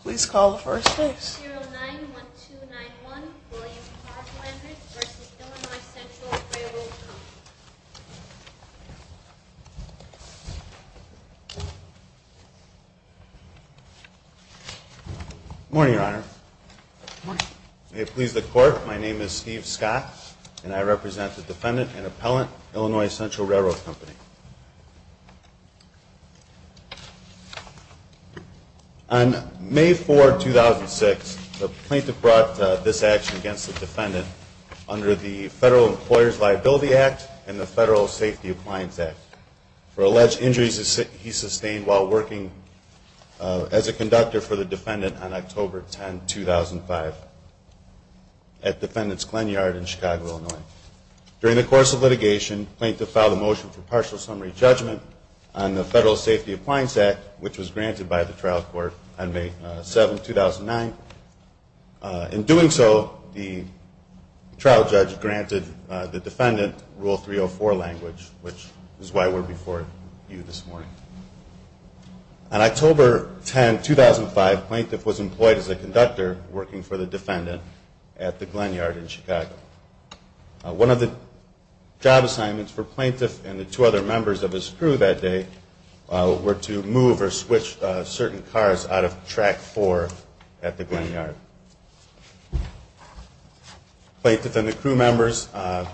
Please call the first base. 09-1291 William Clark-Lannert v. Illinois Central Railroad Co. Good morning, Your Honor. Good morning. May it please the Court, my name is Steve Scott, and I represent the defendant and appellant, Illinois Central Railroad Company. On May 4, 2006, the plaintiff brought this action against the defendant under the Federal Employer's Liability Act and the Federal Safety Appliance Act for alleged injuries he sustained while working as a conductor for the defendant on October 10, 2005 at Defendant's Glen Yard in Chicago, Illinois. During the course of litigation, the plaintiff filed a motion for partial summary judgment on the Federal Safety Appliance Act, which was granted by the trial court on May 7, 2009. In doing so, the trial judge granted the defendant Rule 304 language, which is why we're before you this morning. On October 10, 2005, the plaintiff was employed as a conductor working for the defendant at the Glen Yard in Chicago. One of the job assignments for the plaintiff and the two other members of his crew that day were to move or switch certain cars out of Track 4 at the Glen Yard. The plaintiff and the crew members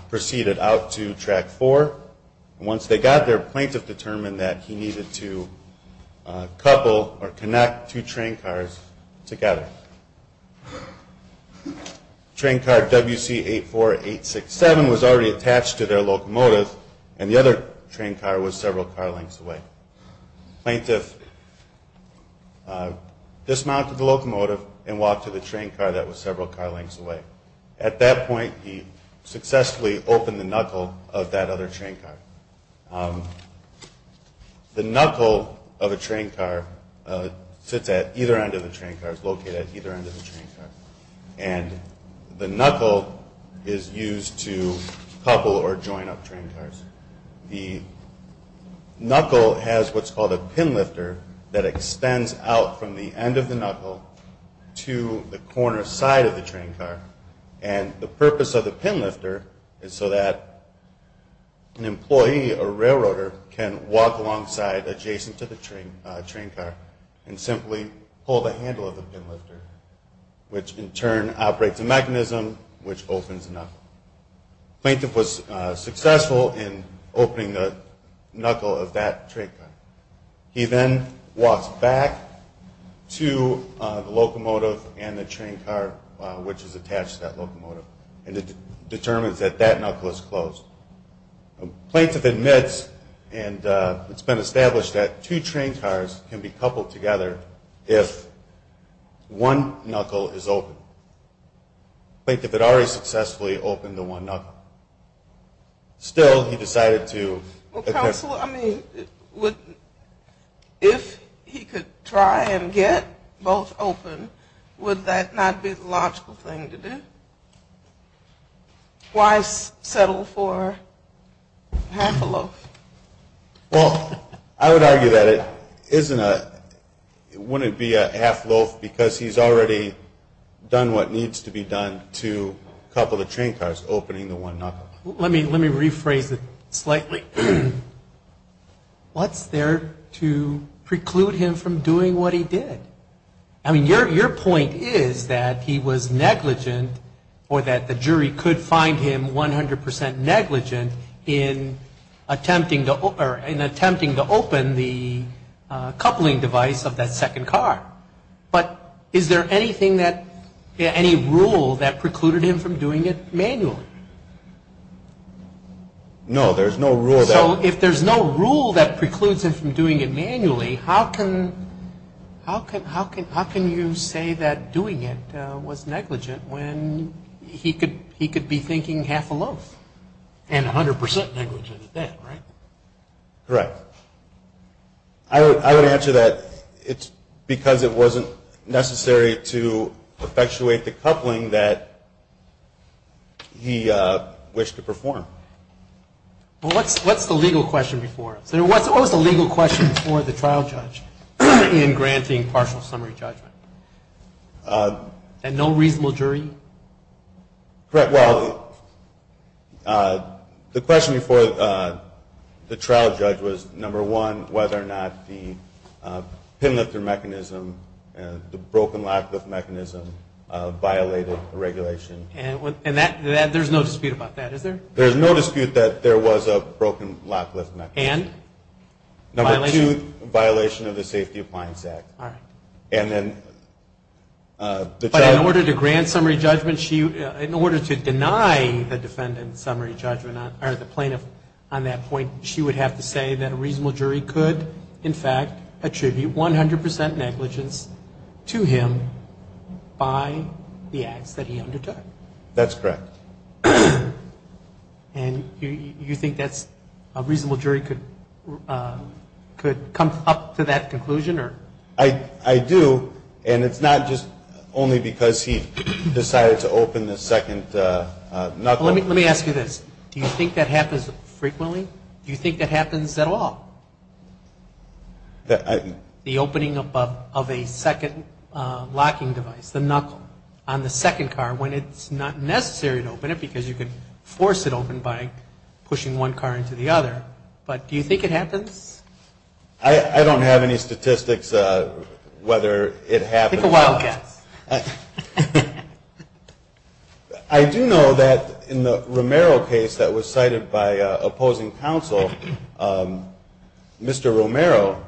proceeded out to Track 4. Once they got there, the plaintiff determined that he needed to couple or connect two train cars together. The train car WC84867 was already attached to their locomotive, and the other train car was several car lengths away. The plaintiff dismounted the locomotive and walked to the train car that was several car lengths away. At that point, he successfully opened the knuckle of that other train car. The knuckle of a train car sits at either end of the train car. The knuckle is used to couple or join up train cars. The knuckle has what's called a pin lifter that extends out from the end of the knuckle to the corner side of the train car. And the purpose of the pin lifter is so that an employee, a railroader, can walk alongside adjacent to the train car and simply pull the handle of the pin lifter, which in turn operates a mechanism which opens the knuckle. The plaintiff was successful in opening the knuckle of that train car. He then walks back to the locomotive and the train car, which is attached to that locomotive, and it determines that that knuckle is closed. The plaintiff admits, and it's been established, that two train cars can be coupled together if one knuckle is open. The plaintiff had already successfully opened the one knuckle. Still, he decided to... Well, counsel, I mean, if he could try and get both open, would that not be the logical thing to do? Why settle for half a loaf? Well, I would argue that it wouldn't be a half loaf because he's already done what needs to be done to couple the train cars, opening the one knuckle. Let me rephrase it slightly. What's there to preclude him from doing what he did? I mean, your point is that he was negligent or that the jury could find him 100% negligent in attempting to open the coupling device of that second car. But is there any rule that precluded him from doing it manually? No, there's no rule that... So if there's no rule that precludes him from doing it manually, how can you say that doing it was negligent when he could be thinking half a loaf? And 100% negligent at that, right? Correct. I would answer that it's because it wasn't necessary to effectuate the coupling that he wished to perform. Well, what's the legal question before? What was the legal question before the trial judge in granting partial summary judgment? And no reasonable jury? Well, the question before the trial judge was, number one, whether or not the pin lifter mechanism, the broken lock lift mechanism, violated the regulation. And there's no dispute about that, is there? There's no dispute that there was a broken lock lift mechanism. And? Number two, violation of the Safety Appliance Act. All right. But in order to grant summary judgment, in order to deny the defendant summary judgment, or the plaintiff on that point, she would have to say that a reasonable jury could, in fact, attribute 100% negligence to him by the acts that he undertook. That's correct. And you think that's a reasonable jury could come up to that conclusion? I do, and it's not just only because he decided to open the second knuckle. Let me ask you this. Do you think that happens frequently? Do you think that happens at all? The opening of a second locking device, the knuckle, on the second car, when it's not necessary to open it because you can force it open by pushing one car into the other. But do you think it happens? I don't have any statistics whether it happens. Take a wild guess. I do know that in the Romero case that was cited by opposing counsel, Mr. Romero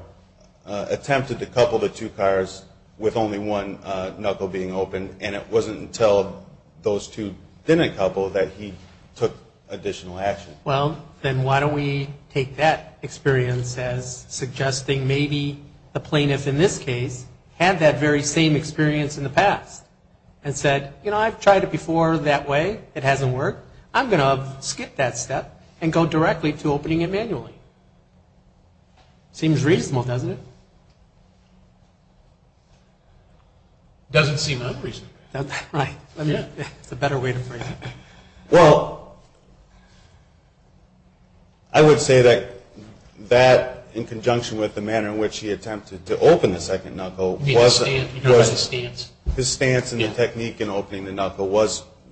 attempted to couple the two cars with only one knuckle being open, and it wasn't until those two didn't couple that he took additional action. Well, then why don't we take that experience as suggesting maybe the plaintiff in this case had that very same experience in the past and said, you know, I've tried it before that way. It hasn't worked. I'm going to skip that step and go directly to opening it manually. Seems reasonable, doesn't it? Doesn't seem unreasonable. Right. It's a better way to phrase it. Well, I would say that in conjunction with the manner in which he attempted to open the second knuckle, his stance and the technique in opening the knuckle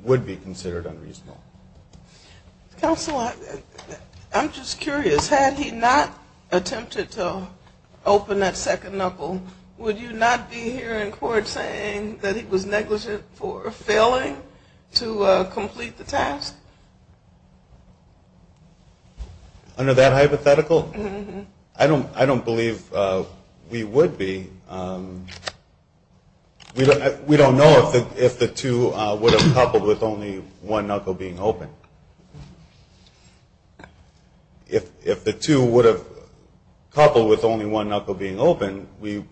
would be considered unreasonable. Counsel, I'm just curious. Had he not attempted to open that second knuckle, would you not be here in court saying that he was negligent for failing to complete the task? Under that hypothetical? I don't believe we would be. We don't know if the two would have coupled with only one knuckle being open. If the two would have coupled with only one knuckle being open, we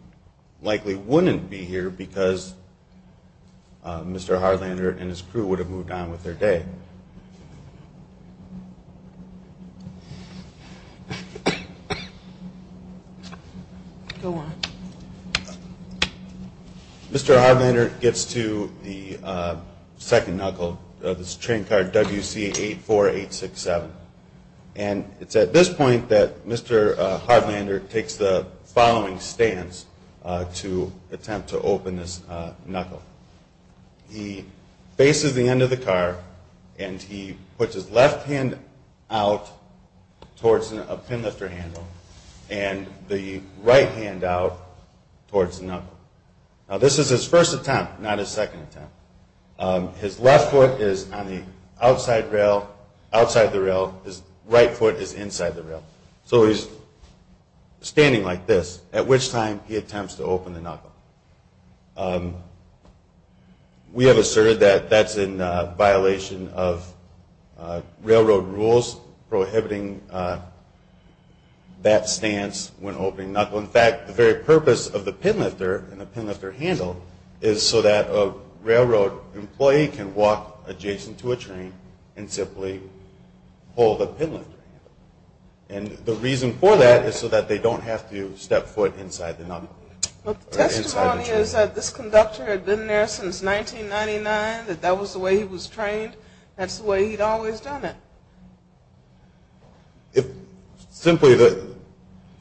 likely wouldn't be here because Mr. Hardlander and his crew would have moved on with their day. Go on. Mr. Hardlander gets to the second knuckle of his train car, WC84867. And it's at this point that Mr. Hardlander takes the following stance to attempt to open this knuckle. He faces the end of the car and he puts his left hand out towards a pin lifter handle and the right hand out towards the knuckle. Now, this is his first attempt, not his second attempt. His left foot is on the outside rail, outside the rail. His right foot is inside the rail. So he's standing like this, at which time he attempts to open the knuckle. Now, we have asserted that that's in violation of railroad rules, prohibiting that stance when opening knuckle. In fact, the very purpose of the pin lifter and the pin lifter handle is so that a railroad employee can walk adjacent to a train and simply pull the pin lifter handle. And the reason for that is so that they don't have to step foot inside the knuckle. But the testimony is that this conductor had been there since 1999, that that was the way he was trained, that's the way he'd always done it. Simply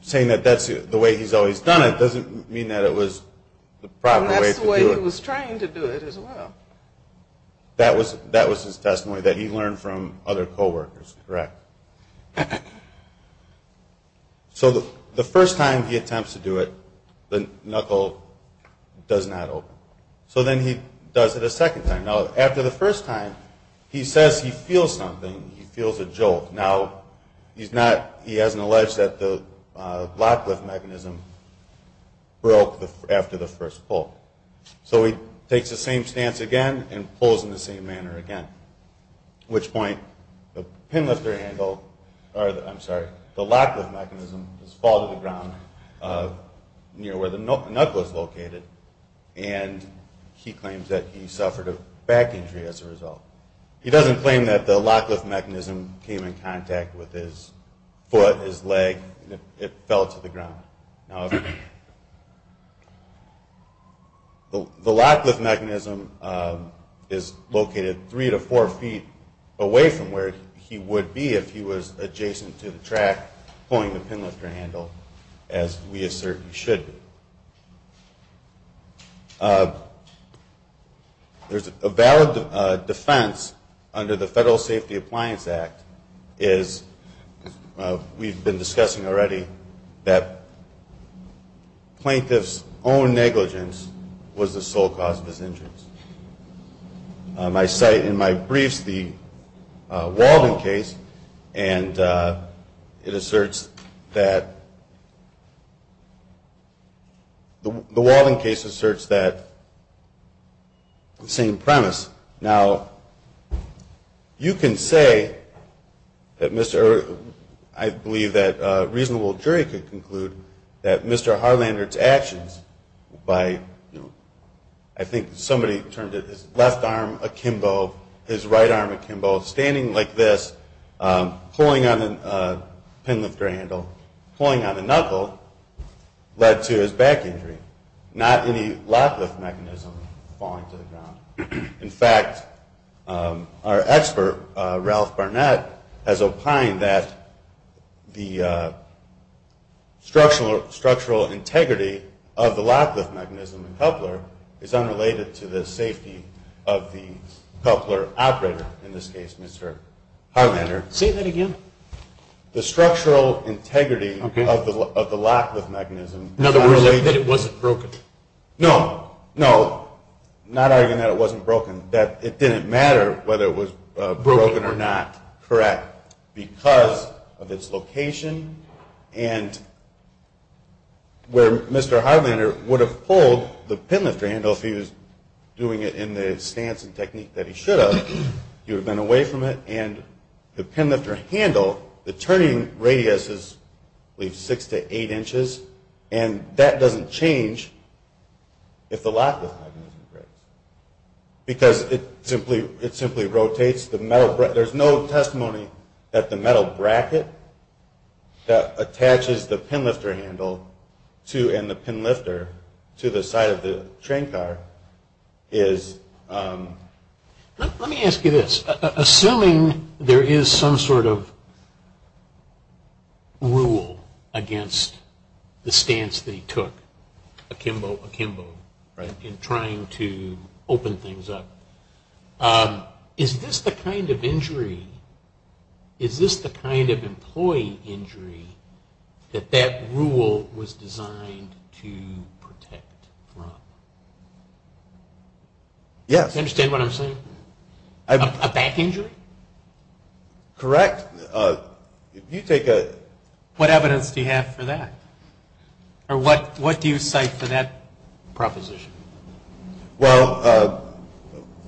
saying that that's the way he's always done it doesn't mean that it was the proper way to do it. And that's the way he was trained to do it as well. That was his testimony that he learned from other coworkers, correct. So the first time he attempts to do it, the knuckle does not open. So then he does it a second time. Now, after the first time, he says he feels something, he feels a jolt. Now, he hasn't alleged that the lock lift mechanism broke after the first pull. So he takes the same stance again and pulls in the same manner again. At which point the lock lift mechanism falls to the ground near where the knuckle is located and he claims that he suffered a back injury as a result. He doesn't claim that the lock lift mechanism came in contact with his foot, his leg, and it fell to the ground. The lock lift mechanism is located three to four feet away from where he would be if he was adjacent to the track pulling the pin lifter handle, as we assert he should be. There's a valid defense under the Federal Safety Appliance Act, is we've been discussing already that plaintiff's own negligence was the sole cause of his injuries. I cite in my briefs the Walden case and it asserts that the Walden case asserts that same premise. Now, you can say, I believe that a reasonable jury could conclude that Mr. Harlander's actions by I think somebody turned his left arm akimbo, his right arm akimbo, standing like this, pulling on the pin lifter handle, pulling on the knuckle, led to his back injury. Not any lock lift mechanism falling to the ground. In fact, our expert, Ralph Barnett, has opined that the structural integrity of the lock lift mechanism in Coupler is unrelated to the safety of the Coupler operator in this case, Mr. Harlander. Say that again. The structural integrity of the lock lift mechanism. In other words, that it wasn't broken. No, no, not arguing that it wasn't broken, that it didn't matter whether it was broken or not. Correct. Because of its location and where Mr. Harlander would have pulled the pin lifter handle if he was doing it in the stance and technique that he should have, he would have been away from it, and the pin lifter handle, the turning radius is I believe six to eight inches, and that doesn't change if the lock lift mechanism breaks. Because it simply rotates. There's no testimony that the metal bracket that attaches the pin lifter handle and the pin lifter to the side of the train car is... Let me ask you this, assuming there is some sort of rule against the stance that he took, akimbo, akimbo, right, in trying to open things up, is this the kind of injury, is this the kind of employee injury that that rule was designed to protect from? Yes. Do you understand what I'm saying? A back injury? Correct. If you take a... What evidence do you have for that? Or what do you cite for that proposition? Well...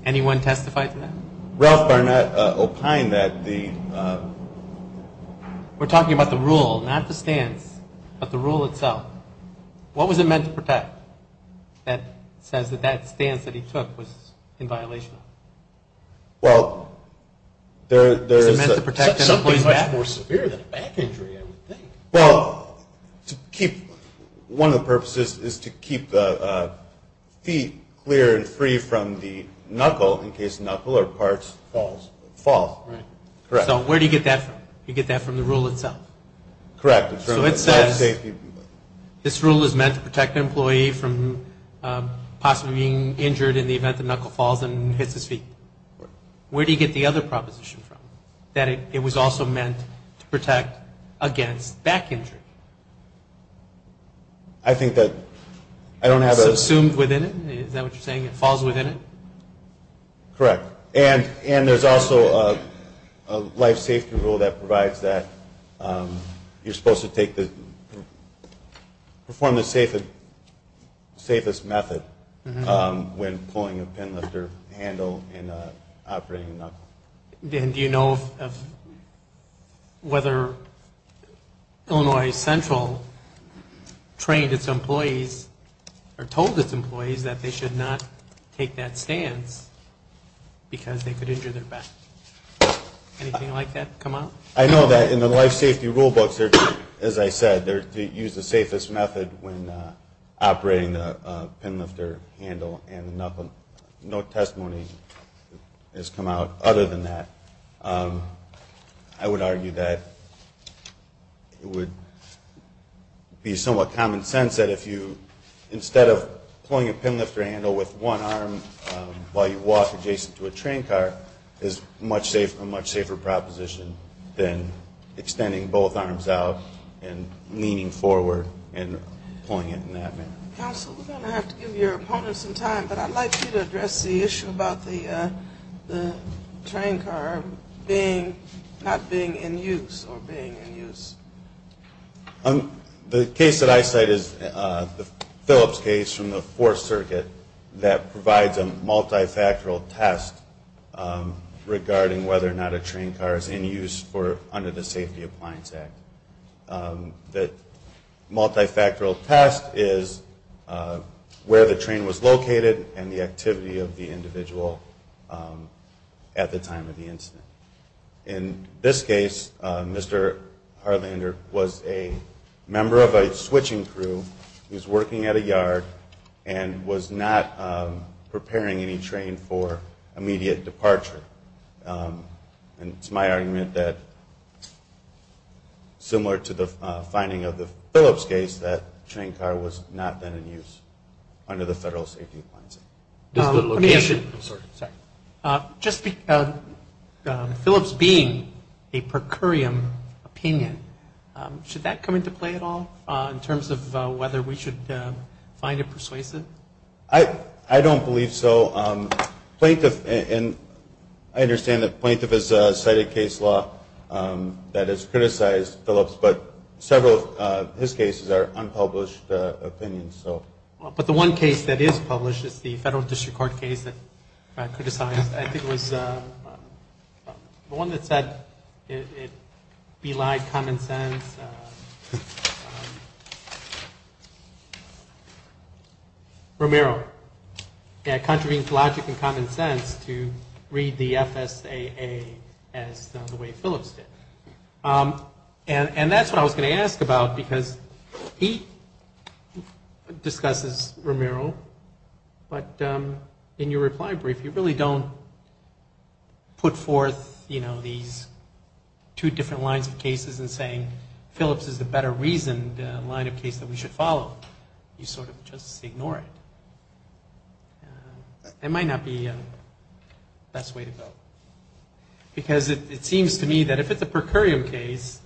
Anyone testify to that? Ralph Barnett opined that the... We're talking about the rule, not the stance, but the rule itself. What was it meant to protect that says that that stance that he took was in violation of? Well, there's... Something much more severe than a back injury, I would think. Well, to keep... One of the purposes is to keep the feet clear and free from the knuckle, in case the knuckle or parts fall. So where do you get that from? You get that from the rule itself. Correct. So it says this rule is meant to protect an employee from possibly being injured in the event the knuckle falls and hits his feet. Where do you get the other proposition from, that it was also meant to protect against back injury? I think that I don't have a... It's assumed within it? Is that what you're saying? It falls within it? Correct. And there's also a life safety rule that provides that you're supposed to take the... Perform the safest method when pulling a pin lifter handle and operating a knuckle. And do you know whether Illinois Central trained its employees or told its employees that they should not take that stance because they could injure their back? Anything like that come up? I know that in the life safety rule books, as I said, they use the safest method when operating the pin lifter handle, and no testimony has come out other than that. I would argue that it would be somewhat common sense that if you, instead of pulling a pin lifter handle with one arm while you walk adjacent to a train car, is a much safer proposition than extending both arms out and leaning forward and pulling it in that manner. Counsel, we're going to have to give your opponent some time, but I'd like you to address the issue about the train car not being in use or being in use. The case that I cite is the Phillips case from the Fourth Circuit that provides a multifactorial test regarding whether or not a train car is in use under the Safety Appliance Act. The multifactorial test is where the train was located and the activity of the individual at the time of the incident. In this case, Mr. Harlander was a member of a switching crew. He was working at a yard and was not preparing any train for immediate departure. And it's my argument that, similar to the finding of the Phillips case, that a train car was not then in use under the Federal Safety Appliance Act. Just the location. I'm sorry. Just the Phillips being a per curiam opinion, should that come into play at all in terms of whether we should find it persuasive? I don't believe so. Plaintiff, and I understand that plaintiff has cited case law that has criticized Phillips, but several of his cases are unpublished opinions. But the one case that is published is the Federal District Court case that I criticized. I think it was the one that said it belied common sense. And it was Romero. Yeah, it contravenes logic and common sense to read the FSAA as the way Phillips did. And that's what I was going to ask about, because he discusses Romero, but in your reply brief you really don't put forth, you know, two different lines of cases and saying Phillips is the better reasoned line of case that we should follow. You sort of just ignore it. It might not be the best way to go. Because it seems to me that if it's a per curiam case,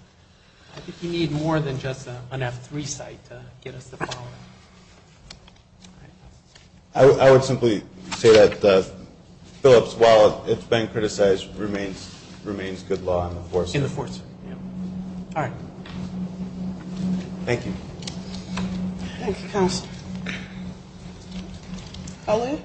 I think you need more than just an F3 site to get us the following. All right. I would simply say that Phillips, while it's been criticized, remains good law in the force. In the force. Yeah. All right. Thank you. Thank you, counsel. I'll leave.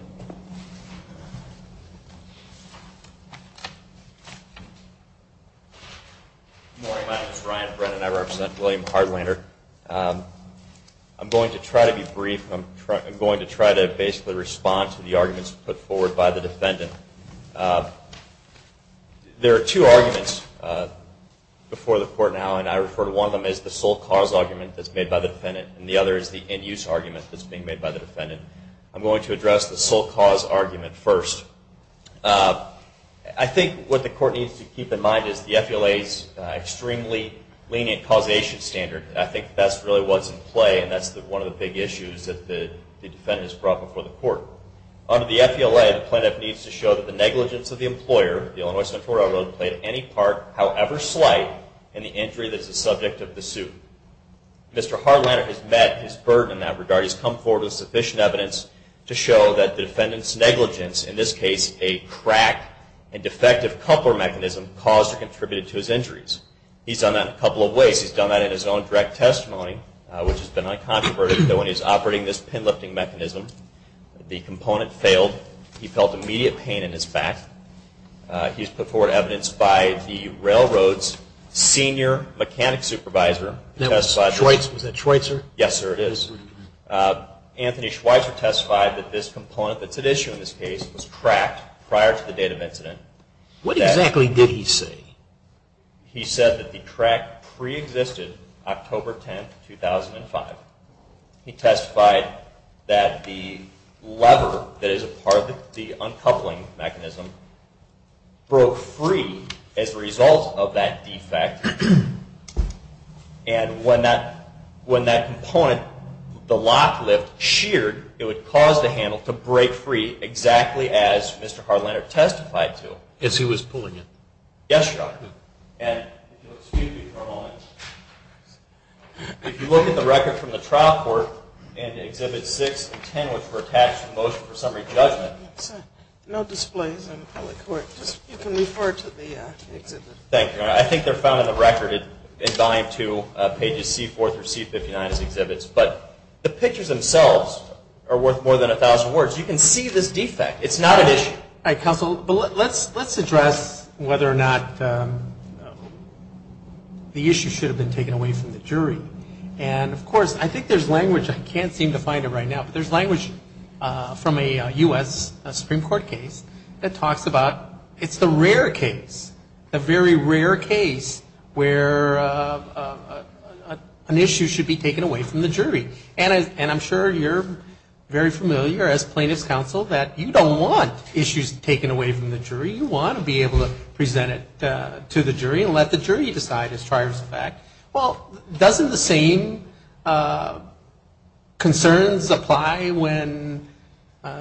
Good morning. My name is Ryan Brennan. I represent William Hardlander. I'm going to try to be brief. I'm going to try to basically respond to the arguments put forward by the defendant. There are two arguments before the court now, and I refer to one of them as the sole cause argument that's made by the defendant, and the other is the end use argument that's being made by the defendant. I'm going to address the sole cause argument first. I think what the court needs to keep in mind is the FLA's extremely lenient causation standard, and I think that's really what's in play, and that's one of the big issues that the defendant has brought before the court. Under the FLA, the plaintiff needs to show that the negligence of the employer, the Illinois Central Railroad, played any part, however slight, in the injury that's the subject of the suit. Mr. Hardlander has met his burden in that regard. He's come forward with sufficient evidence to show that the defendant's negligence, in this case a crack and defective coupler mechanism, caused or contributed to his injuries. He's done that a couple of ways. He's done that in his own direct testimony, which has been uncontroverted when he's operating this pin-lifting mechanism. The component failed. He felt immediate pain in his back. He's put forward evidence by the railroad's senior mechanic supervisor. Was that Schweitzer? Yes, sir, it is. Anthony Schweitzer testified that this component that's at issue in this case was cracked prior to the date of incident. What exactly did he say? He said that the crack preexisted October 10, 2005. He testified that the lever that is a part of the uncoupling mechanism broke free as a result of that defect, and when that component, the lock lift, sheared, it would cause the handle to break free exactly as Mr. Hardlander testified to. As he was pulling it? Yes, sir. And if you'll excuse me for a moment, if you look at the record from the trial court in Exhibits 6 and 10, which were attached to the Motion for Summary Judgment. Yes, sir. No displays in public court. You can refer to the exhibit. Thank you. I think they're found in the record in Volume 2, Pages C-4 through C-59, as exhibits, but the pictures themselves are worth more than 1,000 words. You can see this defect. It's not an issue. All right, counsel, but let's address whether or not the issue should have been taken away from the jury. And, of course, I think there's language. I can't seem to find it right now, but there's language from a U.S. Supreme Court case that talks about it's the rare case, the very rare case where an issue should be taken away from the jury. And I'm sure you're very familiar, as plaintiff's counsel, that you don't want issues taken away from the jury. You want to be able to present it to the jury and let the jury decide as far as the fact. Well, doesn't the same concerns apply when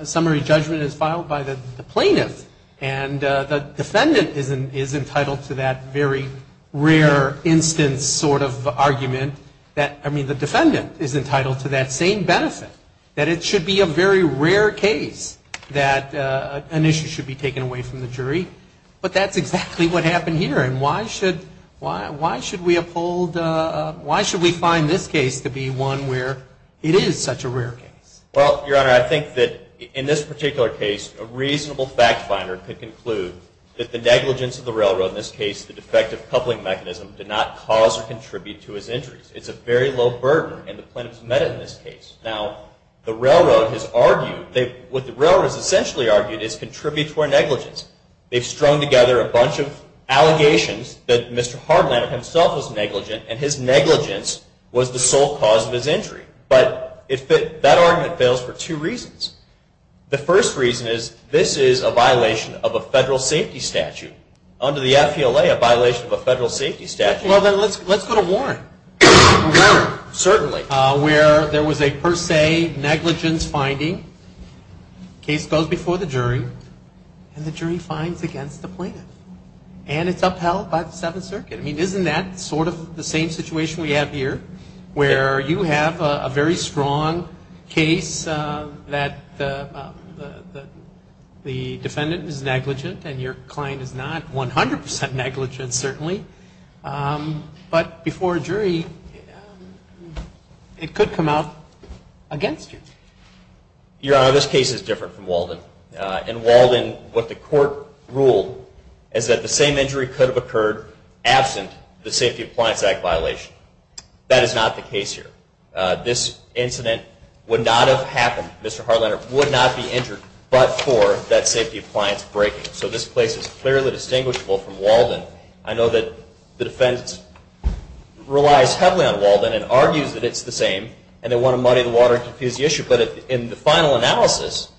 summary judgment is filed by the plaintiff and the defendant is entitled to that very rare instance sort of benefit, that it should be a very rare case that an issue should be taken away from the jury? But that's exactly what happened here. And why should we find this case to be one where it is such a rare case? Well, Your Honor, I think that in this particular case, a reasonable fact finder could conclude that the negligence of the railroad, in this case the defective coupling mechanism, did not cause or contribute to his injuries. It's a very low burden, and the plaintiff's met it in this case. Now, the railroad has argued, what the railroad has essentially argued, is contribute to our negligence. They've strung together a bunch of allegations that Mr. Hardlander himself was negligent, and his negligence was the sole cause of his injury. But that argument fails for two reasons. The first reason is this is a violation of a federal safety statute. Under the FPLA, a violation of a federal safety statute. Well, then let's go to Warren. Certainly. Where there was a per se negligence finding. Case goes before the jury, and the jury finds against the plaintiff. And it's upheld by the Seventh Circuit. I mean, isn't that sort of the same situation we have here, where you have a very strong case that the defendant is negligent and your client is not 100% negligent, certainly. But before a jury, it could come out against you. Your Honor, this case is different from Walden. In Walden, what the court ruled is that the same injury could have occurred absent the Safety Appliance Act violation. That is not the case here. This incident would not have happened. Mr. Hartlander would not be injured but for that safety appliance breaking. So this case is clearly distinguishable from Walden. I know that the defense relies heavily on Walden and argues that it's the same, and they want to muddy the water and confuse the issue. But in the final analysis,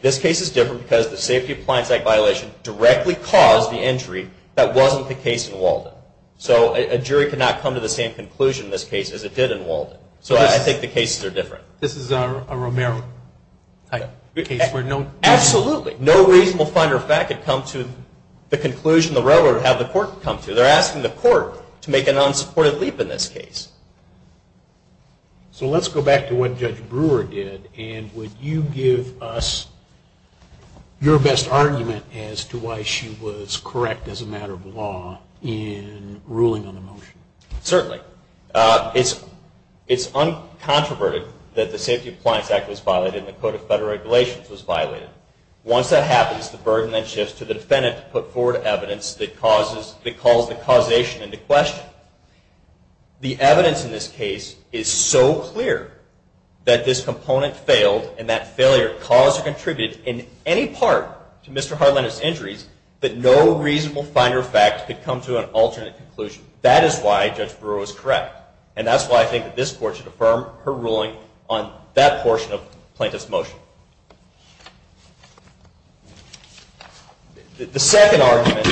this case is different because the Safety Appliance Act violation directly caused the injury that wasn't the case in Walden. So a jury cannot come to the same conclusion in this case as it did in Walden. So I think the cases are different. This is a Romero case. Absolutely. No reasonable finder of fact could come to the conclusion the reveler would have the court come to. They're asking the court to make an unsupported leap in this case. So let's go back to what Judge Brewer did, and would you give us your best argument as to why she was correct as a matter of law in ruling on the motion? Certainly. It's uncontroverted that the Safety Appliance Act was violated and the Code of Federal Regulations was violated. Once that happens, the burden then shifts to the defendant to put forward evidence that calls the causation into question. The evidence in this case is so clear that this component failed and that failure caused or contributed in any part to Mr. Harlanda's injuries that no reasonable finder of fact could come to an alternate conclusion. That is why Judge Brewer was correct, and that's why I think that this Court should affirm her ruling on that portion of the plaintiff's motion. The second argument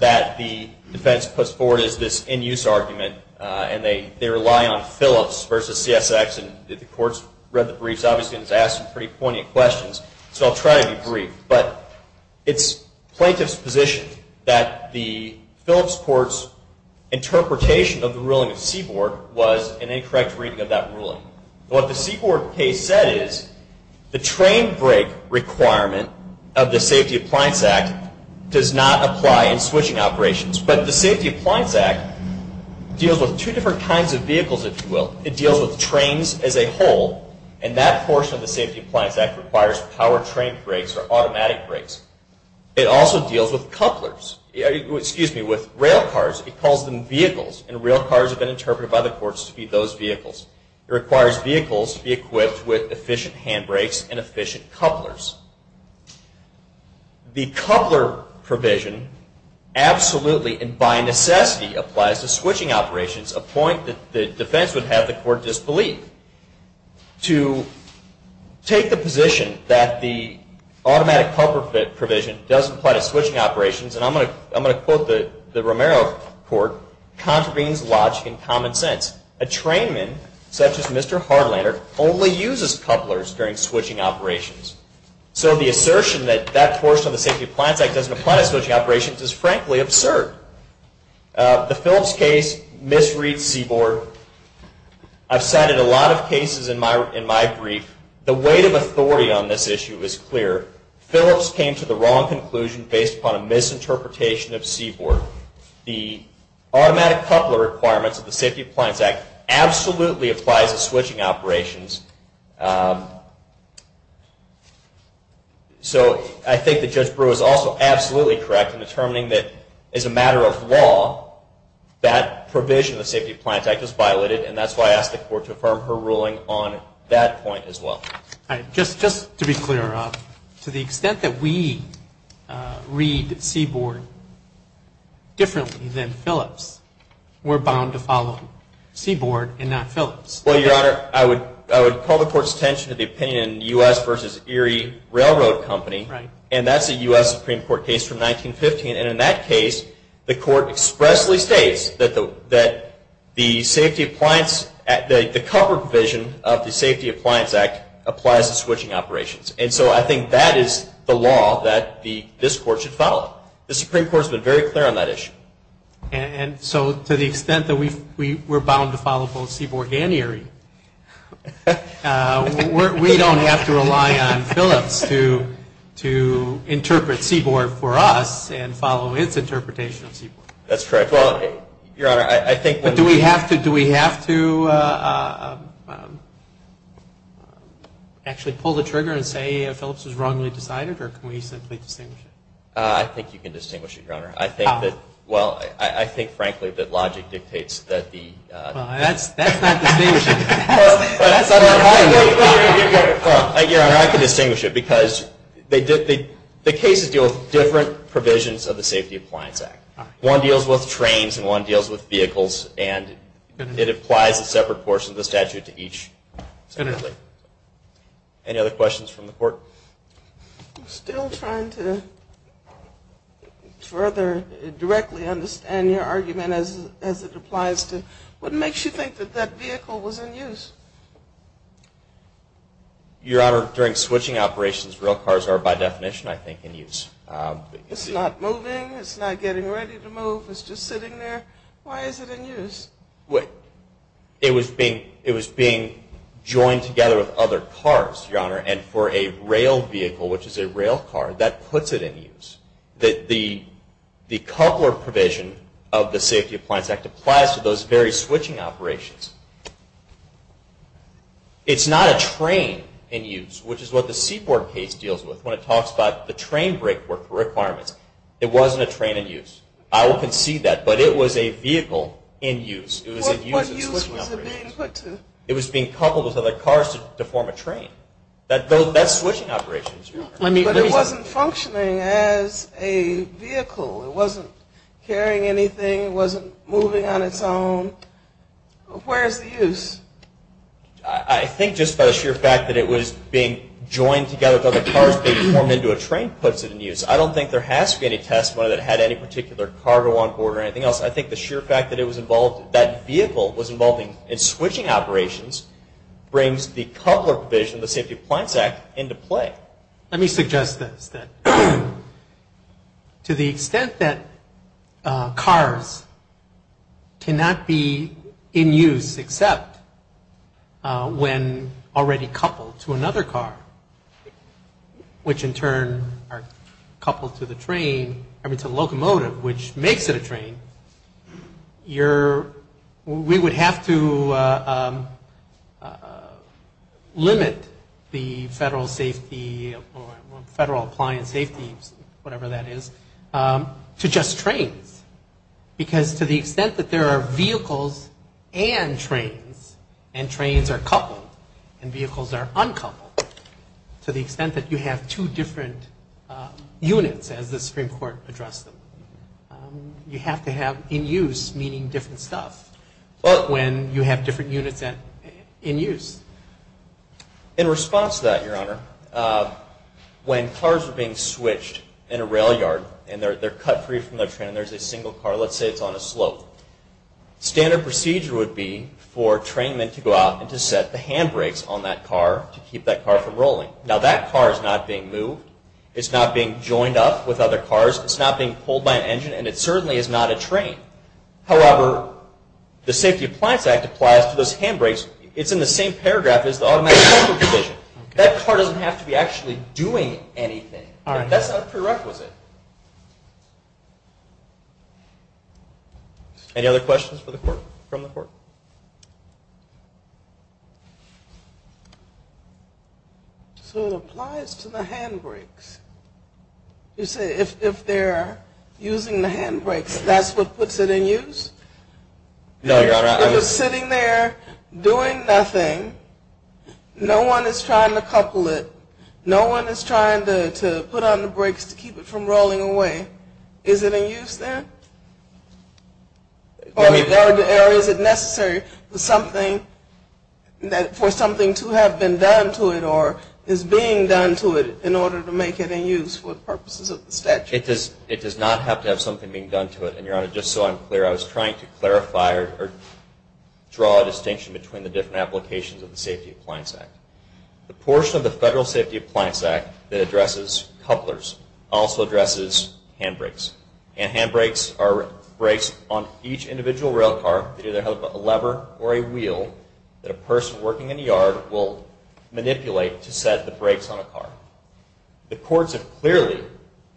that the defense puts forward is this in-use argument, and they rely on Phillips v. CSX, and the Court's read the briefs, obviously, and has asked some pretty poignant questions, so I'll try to be brief. But it's plaintiff's position that the Phillips Court's interpretation of the ruling of Seaboard was an incorrect reading of that ruling. What the Seaboard case said is the train brake requirement of the Safety Appliance Act does not apply in switching operations, but the Safety Appliance Act deals with two different kinds of vehicles, if you will. It deals with trains as a whole, and that portion of the Safety Appliance Act requires power train brakes or automatic brakes. It also deals with railcars. It calls them vehicles, and railcars have been interpreted by the courts to be those vehicles. It requires vehicles to be equipped with efficient handbrakes and efficient couplers. The coupler provision absolutely and by necessity applies to switching operations, a point that the defense would have the Court disbelieve. To take the position that the automatic coupler provision doesn't apply to switching operations, and I'm going to quote the Romero Court, contravenes logic and common sense. A trainman, such as Mr. Hardlander, only uses couplers during switching operations. So the assertion that that portion of the Safety Appliance Act doesn't apply to switching operations is frankly absurd. The Phillips case misread Seaboard. I've cited a lot of cases in my brief. The weight of authority on this issue is clear. Phillips came to the wrong conclusion based upon a misinterpretation of Seaboard. The automatic coupler requirements of the Safety Appliance Act absolutely applies to switching operations. So I think that Judge Brewer is also absolutely correct in determining that as a matter of law, that provision of the Safety Appliance Act is violated, and that's why I asked the Court to affirm her ruling on that point as well. All right. Just to be clear, Rob, to the extent that we read Seaboard differently than Phillips, we're bound to follow Seaboard and not Phillips. Well, Your Honor, I would call the Court's attention to the opinion in U.S. v. Erie Railroad Company, and that's a U.S. Supreme Court case from 1915, and in that case, the Court expressly states that the cover provision of the Safety Appliance Act applies to switching operations. And so I think that is the law that this Court should follow. The Supreme Court has been very clear on that issue. And so to the extent that we're bound to follow both Seaboard and Erie, we don't have to rely on Phillips to interpret Seaboard for us and follow its interpretation of Seaboard. That's correct. Well, Your Honor, I think that... But do we have to actually pull the trigger and say Phillips was wrongly decided, or can we simply distinguish it? I think you can distinguish it, Your Honor. How? Well, I think, frankly, that logic dictates that the... Well, that's not distinguishing. Well, Your Honor, I can distinguish it, because the cases deal with different provisions of the Safety Appliance Act. One deals with trains and one deals with vehicles, and it applies a separate portion of the statute to each separately. Any other questions from the Court? I'm still trying to further directly understand your argument as it applies to... What makes you think that that vehicle was in use? Your Honor, during switching operations, rail cars are by definition, I think, in use. It's not moving, it's not getting ready to move, it's just sitting there. Why is it in use? It was being joined together with other cars, Your Honor, and for a rail vehicle, which is a rail car, that puts it in use. The coupler provision of the Safety Appliance Act applies to those very switching operations. It's not a train in use, which is what the Seaboard case deals with when it talks about the train brake work requirements. It wasn't a train in use. I will concede that, but it was a vehicle in use. What use was it being put to? It was being coupled with other cars to form a train. That's switching operations, Your Honor. But it wasn't functioning as a vehicle. It wasn't carrying anything. It wasn't moving on its own. Where is the use? I think just by the sheer fact that it was being joined together with other cars to form into a train puts it in use. I don't think there has to be any testimony that it had any particular cargo on board or anything else. I think the sheer fact that it was involved, that vehicle was involved in switching operations brings the coupler provision of the Safety Appliance Act into play. Let me suggest this, that to the extent that cars cannot be in use except when already coupled to another car, which in turn are coupled to the locomotive, which makes it a train, we would have to limit the federal safety or federal appliance safety, whatever that is, to just trains. Because to the extent that there are vehicles and trains, and trains are coupled and vehicles are uncoupled, to the extent that you have two different units, as the Supreme Court addressed them, you have to have in use, meaning different stuff, when you have different units in use. In response to that, Your Honor, when cars are being switched in a rail yard and they're cut free from the train and there's a single car, let's say it's on a slope, standard procedure would be for trainmen to go out and to set the handbrakes on that car to keep that car from rolling. Now that car is not being moved. It's not being joined up with other cars. It's not being pulled by an engine. And it certainly is not a train. However, the Safety Appliance Act applies to those handbrakes. It's in the same paragraph as the automatic control provision. That car doesn't have to be actually doing anything. That's not a prerequisite. Any other questions from the Court? So it applies to the handbrakes. You say if they're using the handbrakes, that's what puts it in use? No, Your Honor. If it's sitting there doing nothing, no one is trying to couple it, no one is trying to put on the brakes to keep it from rolling away, is it in use then? Or is it necessary for something to have been done to it or is being done to it in order to make it in use for purposes of the statute? It does not have to have something being done to it. And, Your Honor, just so I'm clear, I was trying to clarify or draw a distinction between the different applications of the Safety Appliance Act. The portion of the Federal Safety Appliance Act that addresses couplers also addresses handbrakes. And handbrakes are brakes on each individual rail car that either have a lever or a wheel that a person working in a yard will manipulate to set the brakes on a car. The courts have clearly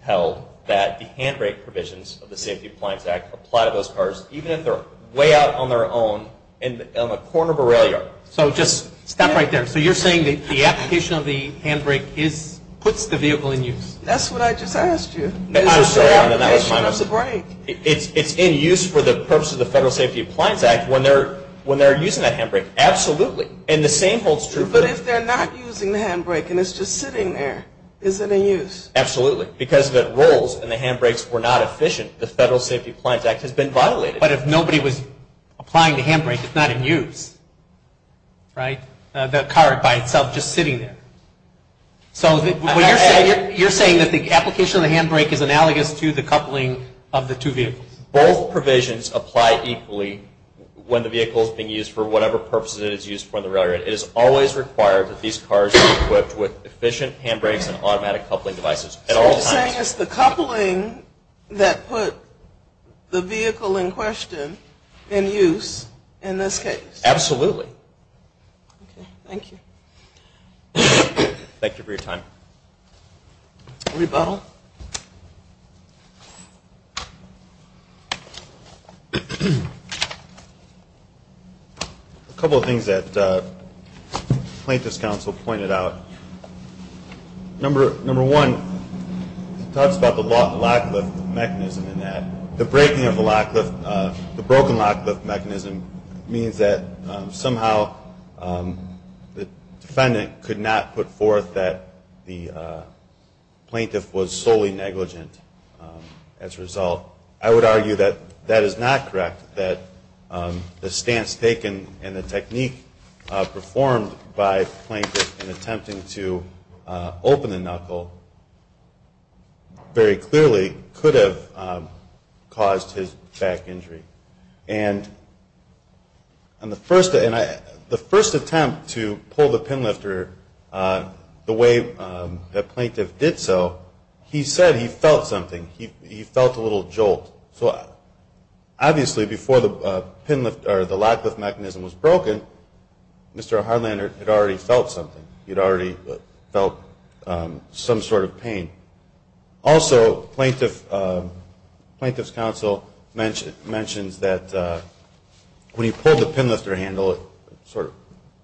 held that the handbrake provisions of the Safety Appliance Act apply to those cars even if they're way out on their own on the corner of a rail yard. So just stop right there. So you're saying the application of the handbrake puts the vehicle in use? That's what I just asked you. I'm sorry, Your Honor. It's in use for the purpose of the Federal Safety Appliance Act. When they're using that handbrake? Absolutely. And the same holds true. But if they're not using the handbrake and it's just sitting there, is it in use? Absolutely. Because the rules and the handbrakes were not efficient, the Federal Safety Appliance Act has been violated. But if nobody was applying the handbrake, it's not in use, right? The car by itself just sitting there. So you're saying that the application of the handbrake is analogous to the coupling of the two vehicles? Both provisions apply equally when the vehicle is being used for whatever purposes it is used for on the railroad. It is always required that these cars be equipped with efficient handbrakes and automatic coupling devices at all times. So you're saying it's the coupling that put the vehicle in question in use in this case? Absolutely. Okay, thank you. Thank you for your time. Rebuttal. A couple of things that plaintiff's counsel pointed out. Number one, he talks about the lock-lift mechanism and that. The breaking of the lock-lift, the broken lock-lift mechanism, means that somehow the defendant could not put forth that the plaintiff was solely negligent as a result. Well, I would argue that that is not correct, that the stance taken and the technique performed by the plaintiff in attempting to open the knuckle very clearly could have caused his back injury. And the first attempt to pull the pin-lifter the way the plaintiff did so, he said he felt something. He felt a little jolt. So obviously before the lock-lift mechanism was broken, Mr. Hardlander had already felt something. He had already felt some sort of pain. Also, plaintiff's counsel mentions that when he pulled the pin-lifter handle, it sort of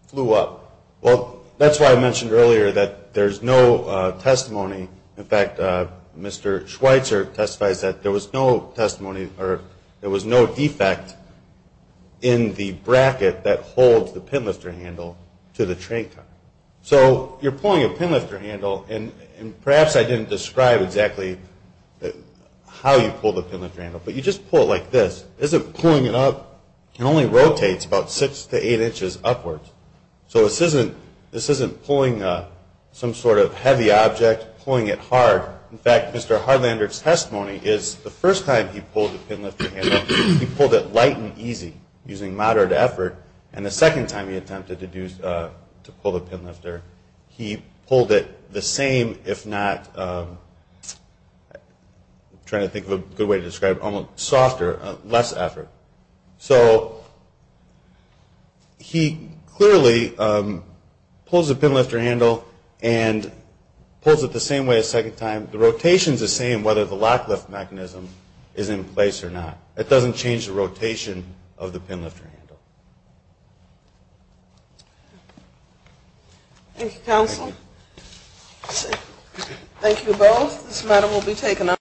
flew up. Well, that's why I mentioned earlier that there's no testimony. In fact, Mr. Schweitzer testifies that there was no testimony or there was no defect in the bracket that holds the pin-lifter handle to the train car. So you're pulling a pin-lifter handle, and perhaps I didn't describe exactly how you pull the pin-lifter handle, but you just pull it like this. As I'm pulling it up, it only rotates about six to eight inches upwards. So this isn't pulling some sort of heavy object, pulling it hard. In fact, Mr. Hardlander's testimony is the first time he pulled the pin-lifter handle, he pulled it light and easy using moderate effort, and the second time he attempted to pull the pin-lifter, he pulled it the same if not, I'm trying to think of a good way to describe it, almost softer, less effort. So he clearly pulls the pin-lifter handle and pulls it the same way a second time. The rotation's the same whether the lock-lift mechanism is in place or not. It doesn't change the rotation of the pin-lifter handle. Thank you, counsel. Thank you both. This matter will be taken up.